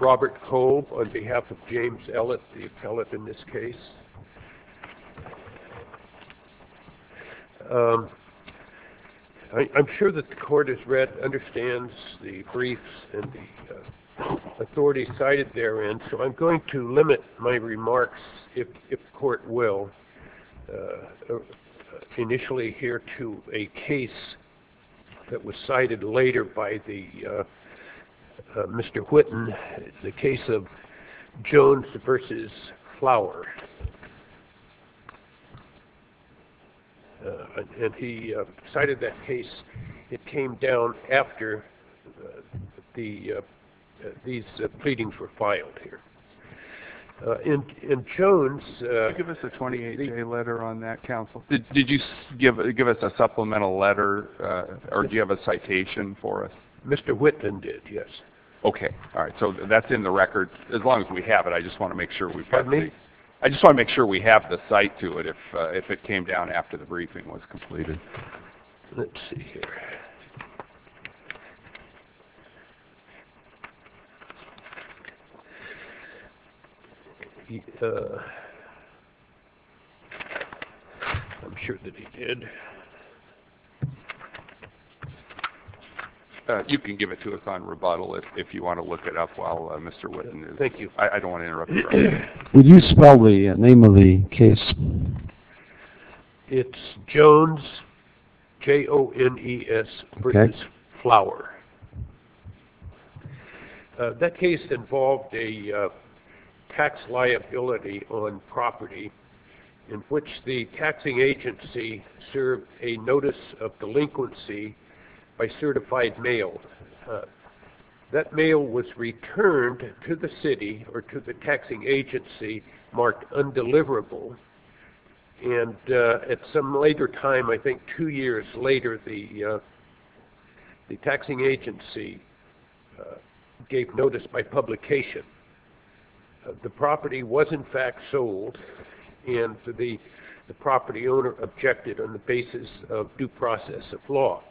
Robert Cole, on behalf of James Ellett, the appellate in this case. I'm sure that the Court has read and understands the briefs and the authority cited therein, so I'm going to limit my remarks, if the Court will, initially here to a case that was cited later by Mr. Whitten, the case of Jones v. Flower. And he cited that case, it came down after these pleadings were filed here. In Jones, did you give us a supplemental letter or do you have a citation for us? Mr. Whitten did, yes. Okay, all right, so that's in the record. As long as we have it, I just want to make sure we've covered it. I just want to make sure we have the cite to it if it came down after the briefing was completed. Let's see here. I'm sure that he did. You can give it to us on rebuttal if you want to look it up while Mr. Whitten is. Thank you. I don't want to interrupt you. Would you spell the name of the case? It's Jones, J-O-N-E-S, versus Flower. That case involved a tax liability on property in which the taxing agency served a notice of delinquency by certified mail. That mail was returned to the city or to the taxing agency marked undeliverable. And at some later time, I think two years later, the taxing agency gave notice by publication. The property was in fact sold and the property owner objected on the basis of due process of law.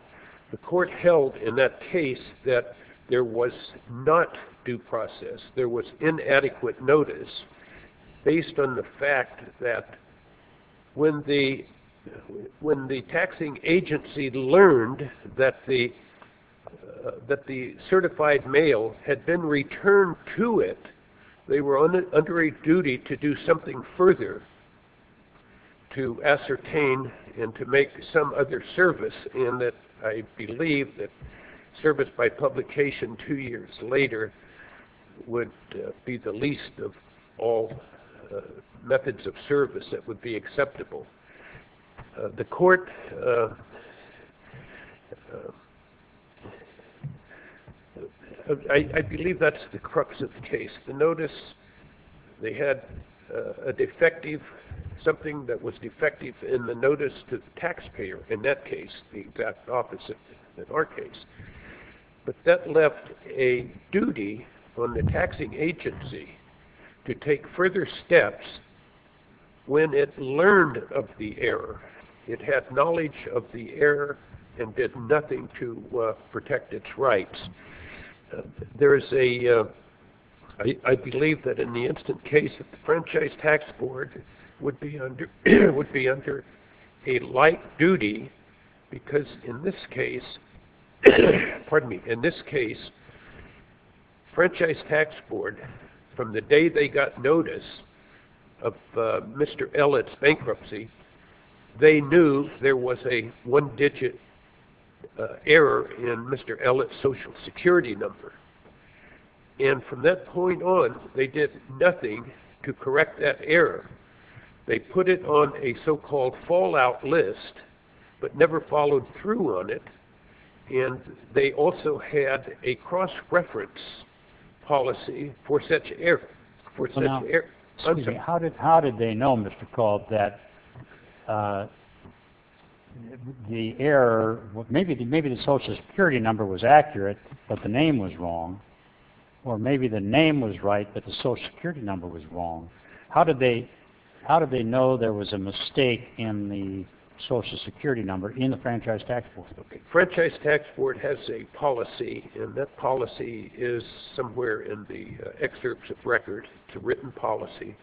The court held in that case that there was not due process, there was inadequate notice based on the fact that when the taxing agency learned that the certified mail had been returned to it, they were under a duty to do something further, to ascertain and to make some other service in that I believe that service by publication two years later would be the least of all methods of service that would be acceptable. The court, I believe that's the crux of the case. The notice, they had a defective, something that was defective in the notice to the taxpayer in that case, the exact opposite in our case. But that left a duty on the taxing agency to take further steps when it learned of the error. It had knowledge of the error and did nothing to protect its rights. There is a, I believe that in the instant case that the Franchise Tax Board would be under a light duty because in this case, pardon me, in this case Franchise Tax Board from the day they got notice of Mr. Ellett's bankruptcy, they knew there was a one digit error in Mr. Ellett's social security number. And from that point on, they did nothing to correct that error. They put it on a so-called fallout list but never followed through on it. And they also had a cross-reference policy for such error. How did they know, Mr. Cald, that the error, maybe the social security number was accurate but the name was wrong or maybe the name was right but the social security number was wrong, how did they know there was a mistake in the social security number in the Franchise Tax Board? Okay. Franchise Tax Board has a policy and that policy is somewhere in the excerpts of record to written policy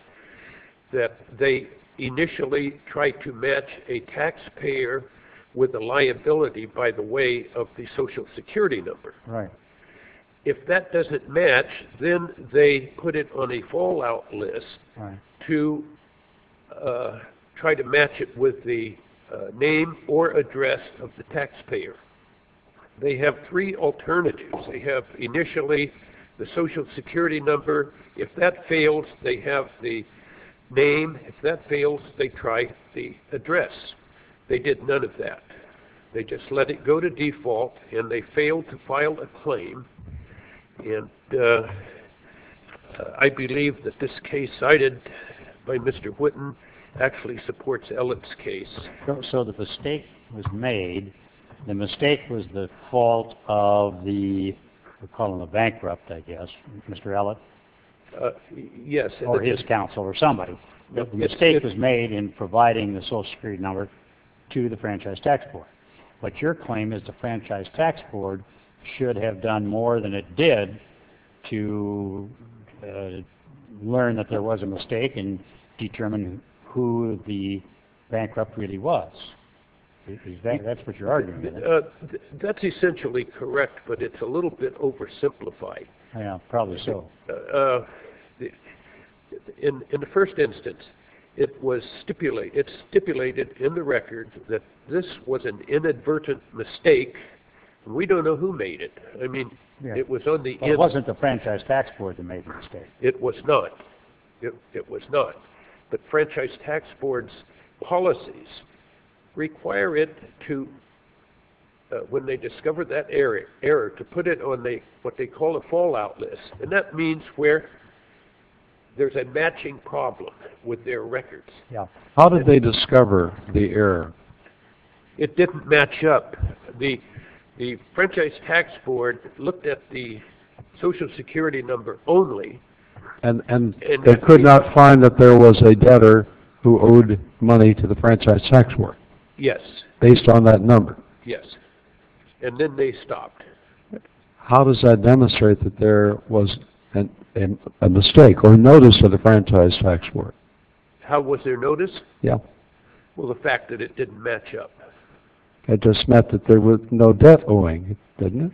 that they initially tried to match a taxpayer with a liability by the way of the social security number. If that doesn't match, then they put it on a fallout list to try to match it with the name or address of the taxpayer. They have three alternatives. They have initially the social security number. If that fails, they have the name. If that fails, they try the address. They did none of that. They just let it go to default and they failed to file a claim and I believe that this case cited by Mr. Whitten actually supports Ellip's case. So the mistake was made, the mistake was the fault of the, we'll call him a bankrupt I guess, Mr. Ellip. Yes. Or his counsel or somebody. The mistake was made in providing the social security number to the Franchise Tax Board. But your claim is the Franchise Tax Board should have done more than it did to learn that there was a mistake and determine who the bankrupt really was. That's what your argument is. That's essentially correct, but it's a little bit oversimplified. Yeah, probably so. In the first instance, it was stipulated in the record that this was an inadvertent mistake and we don't know who made it. I mean, it was on the end. It wasn't the Franchise Tax Board that made the mistake. It was not. It was not. The Franchise Tax Board's policies require it to, when they discover that error, to put it on what they call a fallout list. And that means where there's a matching problem with their records. Yeah. How did they discover the error? It didn't match up. The Franchise Tax Board looked at the social security number only. And they could not find that there was a debtor who owed money to the Franchise Tax Board. Yes. Based on that number. Yes. And then they stopped. How does that demonstrate that there was a mistake or a notice to the Franchise Tax Board? How was there notice? Yeah. Well, the fact that it didn't match up. It just meant that there was no debt owing, didn't it?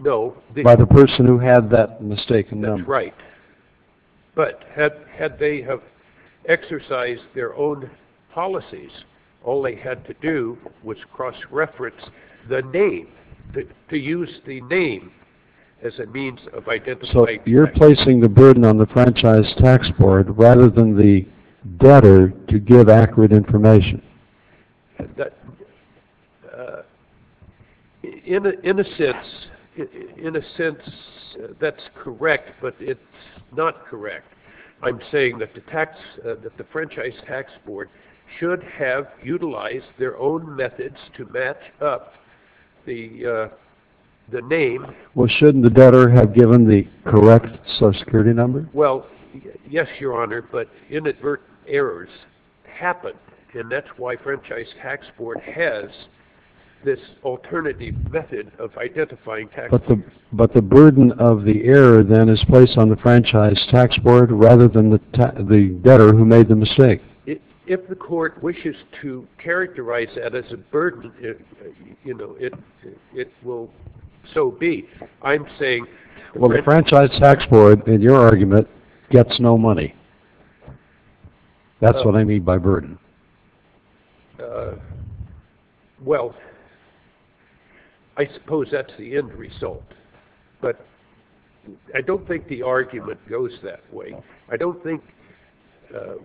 No. By the person who had that mistaken number. That's right. But had they exercised their own policies, all they had to do was cross-reference the name to use the name as a means of identifying the debtor. So you're placing the burden on the Franchise Tax Board rather than the debtor to give accurate information. In a sense, that's correct, but it's not correct. I'm saying that the Franchise Tax Board should have utilized their own methods to match up the name. Well, shouldn't the debtor have given the correct Social Security number? Well, yes, Your Honor, but inadvertent errors happen, and that's why Franchise Tax Board has this alternative method of identifying tax. But the burden of the error, then, is placed on the Franchise Tax Board rather than the debtor who made the mistake. If the court wishes to characterize that as a burden, you know, it will so be. I'm saying... Well, the Franchise Tax Board, in your argument, gets no money. That's what I mean by burden. Well, I suppose that's the end result, but I don't think the argument goes that way. I don't think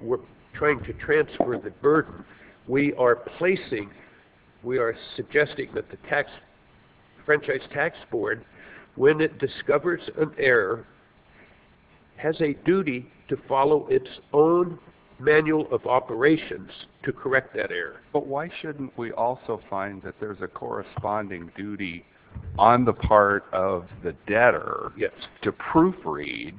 we're trying to transfer the burden. We are placing, we are suggesting that the Franchise Tax Board, when it discovers an error, has a duty to follow its own manual of operations to correct that error. But why shouldn't we also find that there's a corresponding duty on the part of the debtor to proofread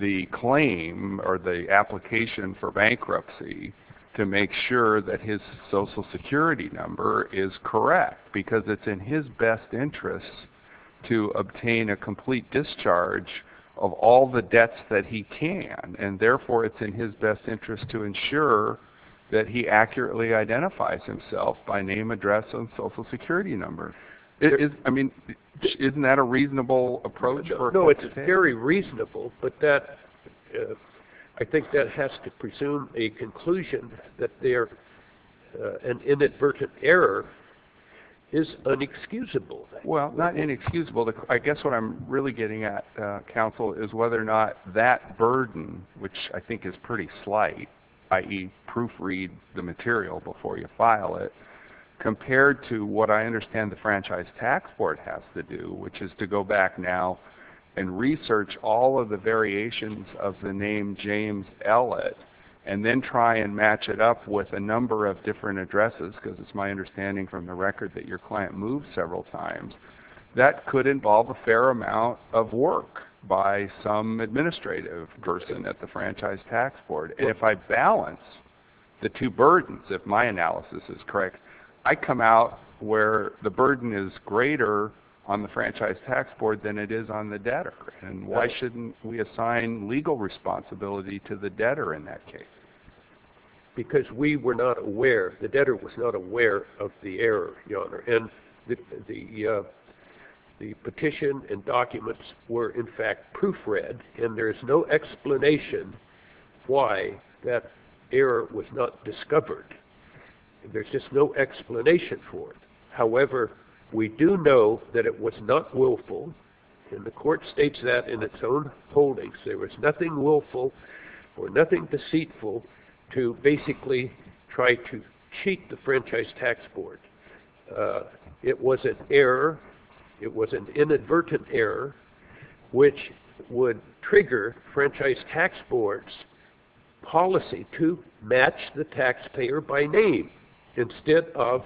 the claim or the application for bankruptcy to make sure that his Social Security number is correct, because it's in his best interest to obtain a complete discharge of all the debts that he can, and therefore, it's in his best interest to ensure that he accurately identifies himself by name, address, and Social Security number? I mean, isn't that a reasonable approach? No, it's very reasonable, but I think that has to presume a conclusion that an inadvertent error is inexcusable. Well, not inexcusable. I guess what I'm really getting at, counsel, is whether or not that burden, which I think is pretty slight, i.e., proofread the material before you file it, compared to what I understand the Franchise Tax Board has to do, which is to go back now and research all of the variations of the name James Ellett, and then try and match it up with a number of different addresses, because it's my understanding from the record that your client moved several times, that could involve a fair amount of work by some administrative person at the Franchise Tax Board. And if I balance the two burdens, if my analysis is correct, I come out where the burden is greater on the Franchise Tax Board than it is on the debtor. And why shouldn't we assign legal responsibility to the debtor in that case? Because we were not aware, the debtor was not aware of the error, Your Honor. And the petition and documents were, in fact, proofread, and there's no explanation why that error was not discovered. There's just no explanation for it. However, we do know that it was not willful, and the court states that in its own holdings. There was nothing willful or nothing deceitful to basically try to cheat the Franchise Tax Board. It was an error, it was an inadvertent error, which would trigger Franchise Tax Board's policy to match the taxpayer by name instead of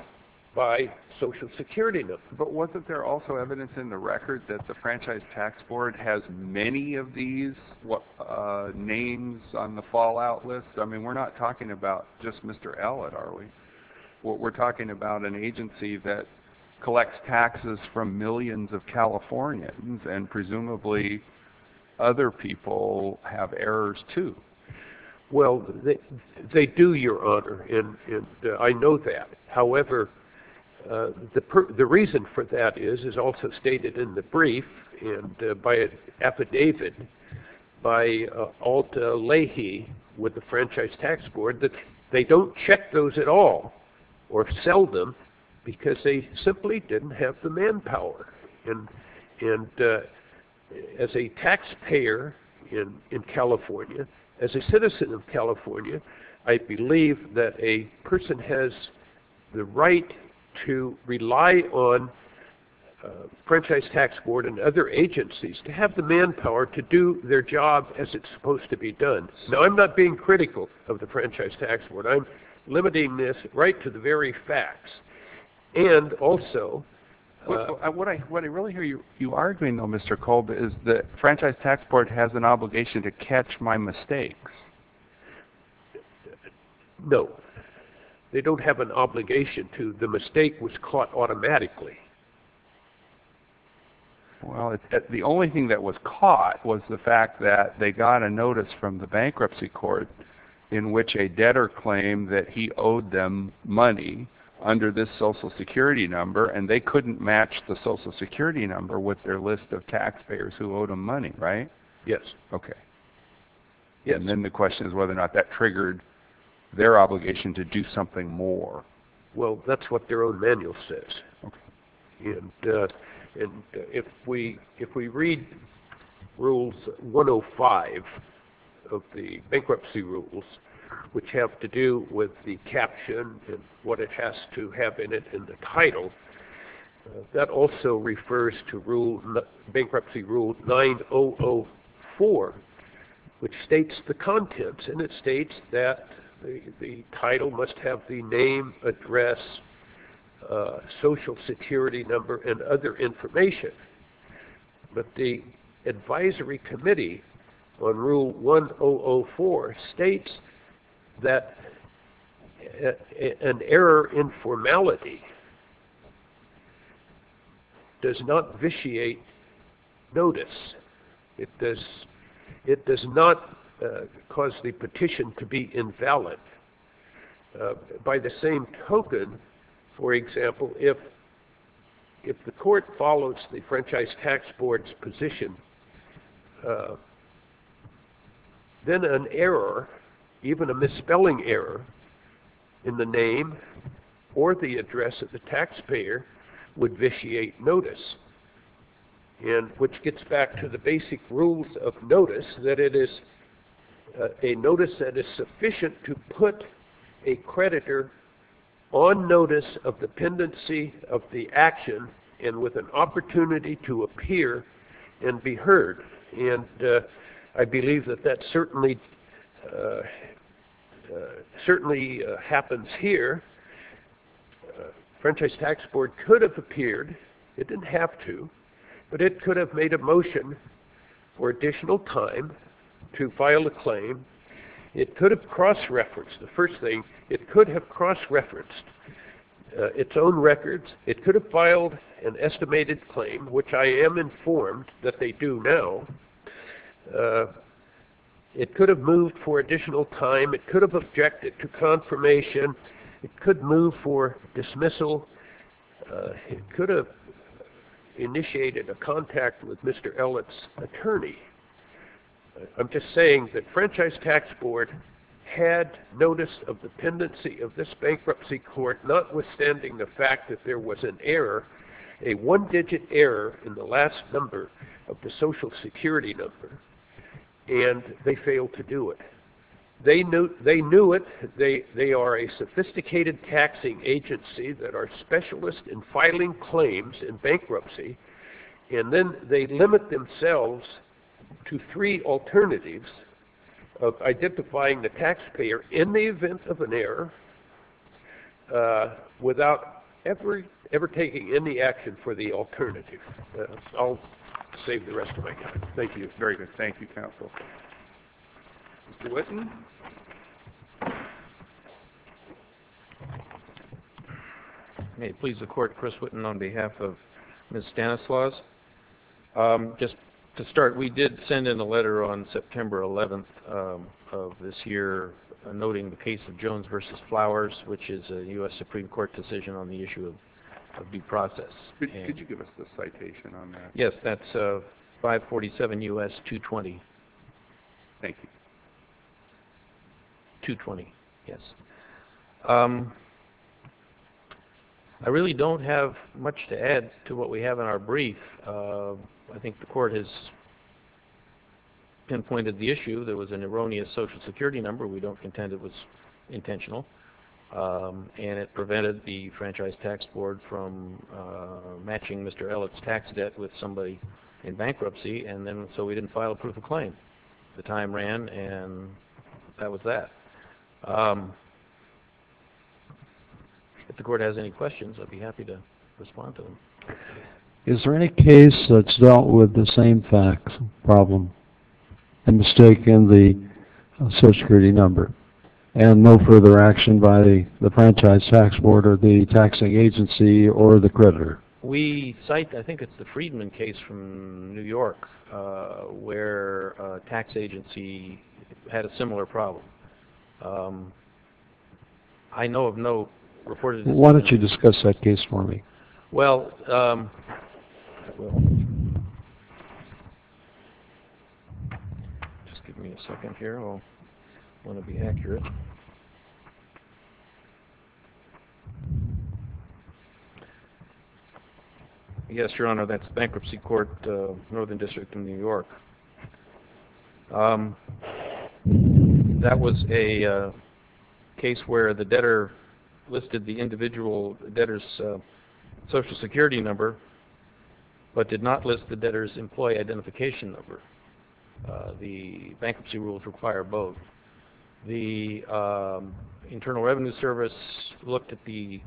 by Social Security number. But wasn't there also evidence in the record that the Franchise Tax Board has many of these names on the fallout list? I mean, we're not talking about just Mr. Allitt, are we? We're talking about an agency that collects taxes from millions of Californians, and presumably other people have errors, too. Well, they do, Your Honor, and I know that. However, the reason for that is, is also stated in the brief and by an affidavit by Alta Leahy with the Franchise Tax Board that they don't check those at all or sell them because they simply didn't have the manpower. And as a taxpayer in California, as a citizen of California, I believe that a person has the right to rely on Franchise Tax Board and other agencies to have the manpower to do their job as it's supposed to be done. Now, I'm not being critical of the Franchise Tax Board. I'm limiting this right to the very facts. And also, what I really hear you arguing, though, Mr. Kolb, is the Franchise Tax Board has an obligation to catch my mistakes. No, they don't have an obligation to. The mistake was caught automatically. Well, the only thing that was caught was the fact that they got a notice from the Bankruptcy Court in which a debtor claimed that he owed them money under this social security number and they couldn't match the social security number with their list of taxpayers who owed them money, right? Yes. Okay. And then the question is whether or not that triggered their obligation to do something more. Well, that's what their own manual says. And if we read rules 105 of the bankruptcy rules, which have to do with the caption and what it has to have in it in the title, that also refers to bankruptcy rule 9004, which states the contents. And it states that the title must have the name, address, social security number, and other information. But the advisory committee on rule 1004 states that an error in formality does not vitiate notice. It does not cause the petition to be invalid. By the same token, for example, if the court follows the Franchise Tax Board's position, then an error, even a misspelling error in the name or the address of the taxpayer would vitiate notice. And which gets back to the basic rules of notice, that it is a notice that is sufficient to put a creditor on notice of dependency of the action and with an opportunity to appear and be heard. And I believe that that certainly happens here. The Franchise Tax Board could have appeared. It didn't have to, but it could have made a motion for additional time to file a claim. It could have cross-referenced. The first thing, it could have cross-referenced its own records. It could have filed an estimated claim, which I am informed that they do now. It could have moved for additional time. It could have objected to confirmation. It could move for dismissal. It could have initiated a contact with Mr. Ellett's attorney. I'm just saying that Franchise Tax Board had notice of dependency of this bankruptcy court, notwithstanding the fact that there was an error, a one-digit error in the last number of the Social Security number, and they failed to do it. They knew it. They are a sophisticated taxing agency that are specialists in filing claims in bankruptcy, and then they limit themselves to three alternatives of identifying the taxpayer in the event of an error without ever taking any action for the alternative. I'll save the rest of my time. Thank you. It's very good. Thank you, counsel. Mr. Whitten? May it please the court, Chris Whitten on behalf of Ms. Stanislaus. Just to start, we did send in a letter on September 11th of this year, noting the case of Jones v. Flowers, which is a U.S. Supreme Court decision on the issue of due process. Could you give us the citation on that? Yes, that's 547 U.S. 220. Thank you. 220, yes. I really don't have much to add to what we have in our brief. I think the court has pinpointed the issue. There was an erroneous Social Security number. We don't contend it was intentional, and it prevented the Franchise Tax Board from matching Mr. Elliott's tax debt with somebody in bankruptcy, and then so we didn't file a proof of claim. The time ran, and that was that. If the court has any questions, I'd be happy to respond to them. Is there any case that's dealt with the same tax problem and mistaken the Social Security number and no further action by the Franchise Tax Board or the taxing agency or the creditor? We cite, I think it's the Freedman case from New York where a tax agency had a similar problem. I know of no reported. Why don't you discuss that case for me? Well, just give me a second here. I'll want to be accurate. Yes, Your Honor, that's Bankruptcy Court, Northern District in New York. That was a case where the debtor listed the individual debtor's Social Security number but did not list the debtor's employee identification number. The bankruptcy rules require both. The Internal Revenue Service looked at the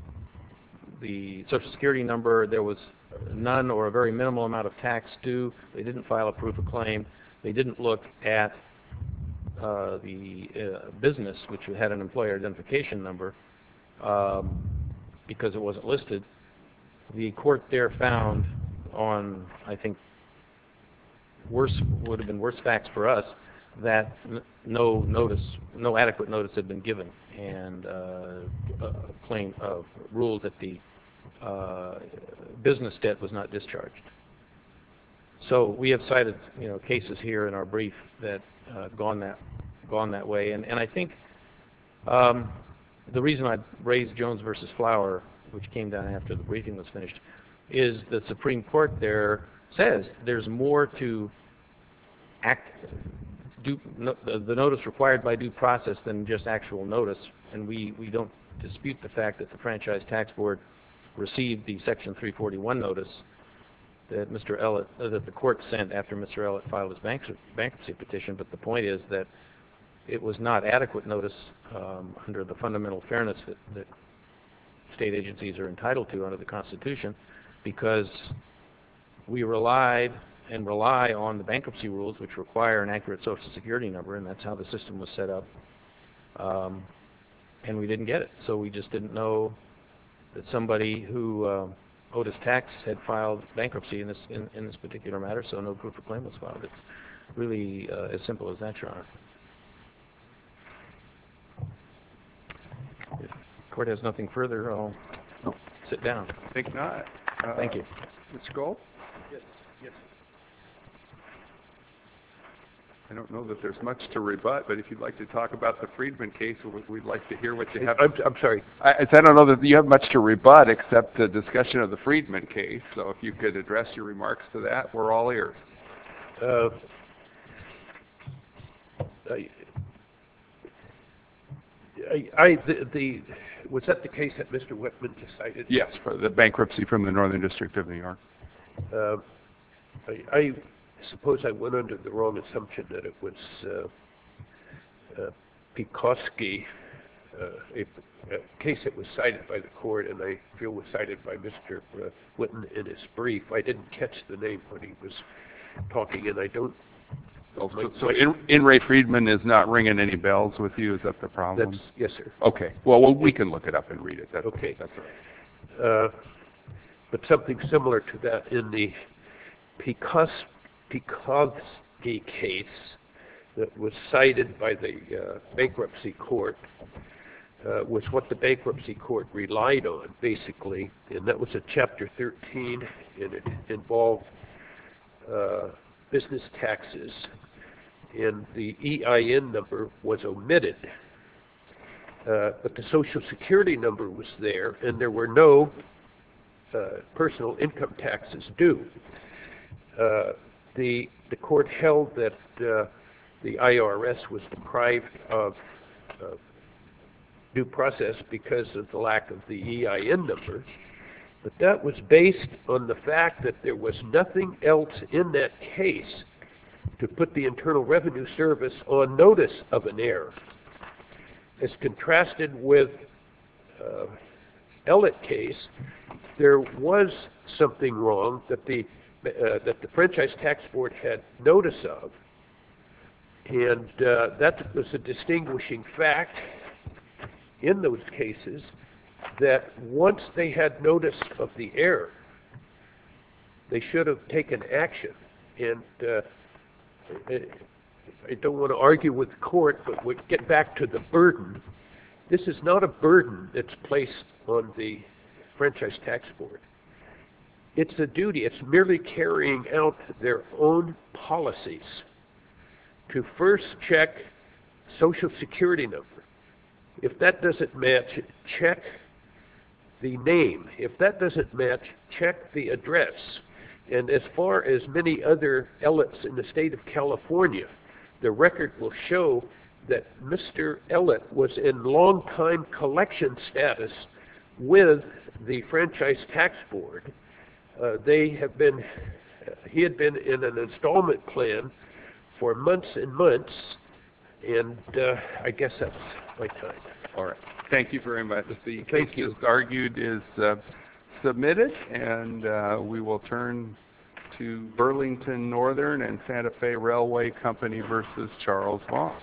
Social Security number. There was none or a very minimal amount of tax due. They didn't file a proof of claim. They didn't look at the business, which had an employer identification number because it wasn't listed. The court there found on, I think, worse, would have been worse facts for us that no notice, no adequate notice had been given and a claim of rule that the business debt was not discharged. So we have cited, you know, cases here in our brief that have gone that way. And I think the reason I raised Jones v. Flower, which came down after the briefing was finished, is the Supreme Court there says there's more to the notice required by due process than just actual notice, and we don't dispute the fact that the Franchise Tax Board received the Section 341 notice that the court sent after Mr. Ellott filed his bankruptcy petition. But the point is that it was not adequate notice under the fundamental fairness that state agencies are entitled to under the Constitution. Because we relied and rely on the bankruptcy rules, which require an accurate social security number, and that's how the system was set up. And we didn't get it, so we just didn't know that somebody who owed his tax had filed bankruptcy in this particular matter. So no proof of claim was filed. It's really as simple as that, Your Honor. If the court has nothing further, I'll sit down. I think not. Ms. Gould? Yes. Yes. I don't know that there's much to rebut, but if you'd like to talk about the Freedman case, we'd like to hear what you have to say. I'm sorry. I don't know that you have much to rebut except the discussion of the Freedman case. So if you could address your remarks to that, we're all ears. Was that the case that Mr. Whitman decided? Yes, for the bankruptcy from the Northern District of New York. I suppose I went under the wrong assumption that it was Pekoske, a case that was cited by the court, and I feel was cited by Mr. Whitman in his brief. I didn't catch the name when he was talking, and I don't. So In re Freedman is not ringing any bells with you? Is that the problem? Yes, sir. Okay. Well, we can look it up and read it. That's right. But something similar to that in the Pekoske case that was cited by the bankruptcy court was what the bankruptcy court relied on, basically, and that was a Chapter 13, and it involved business taxes, and the EIN number was omitted, but the Social Security number was there, and there were no personal income taxes due. The court held that the IRS was deprived of due process because of the lack of the EIN number, but that was based on the fact that there was nothing else in that case to put the Internal Revenue Service on notice of an error. As contrasted with the Ellett case, there was something wrong that the Franchise Tax Board had notice of, and that was a distinguishing fact in those cases that once they had notice of the error, they should have taken action. And I don't want to argue with the court, but we'll get back to the burden. This is not a burden that's placed on the Franchise Tax Board. It's a duty. It's merely carrying out their own policies to first check Social Security number. If that doesn't match, check the name. If that doesn't match, check the address. And as far as many other Elletts in the state of California, the record will show that Mr. Ellett was in long-time collection status with the Franchise Tax Board. They have been, he had been in an installment plan for months and months, and I guess that's my time. All right. Thank you very much. The case is argued is submitted, and we will turn to Burlington Northern and Santa Fe Railway Company versus Charles Moss.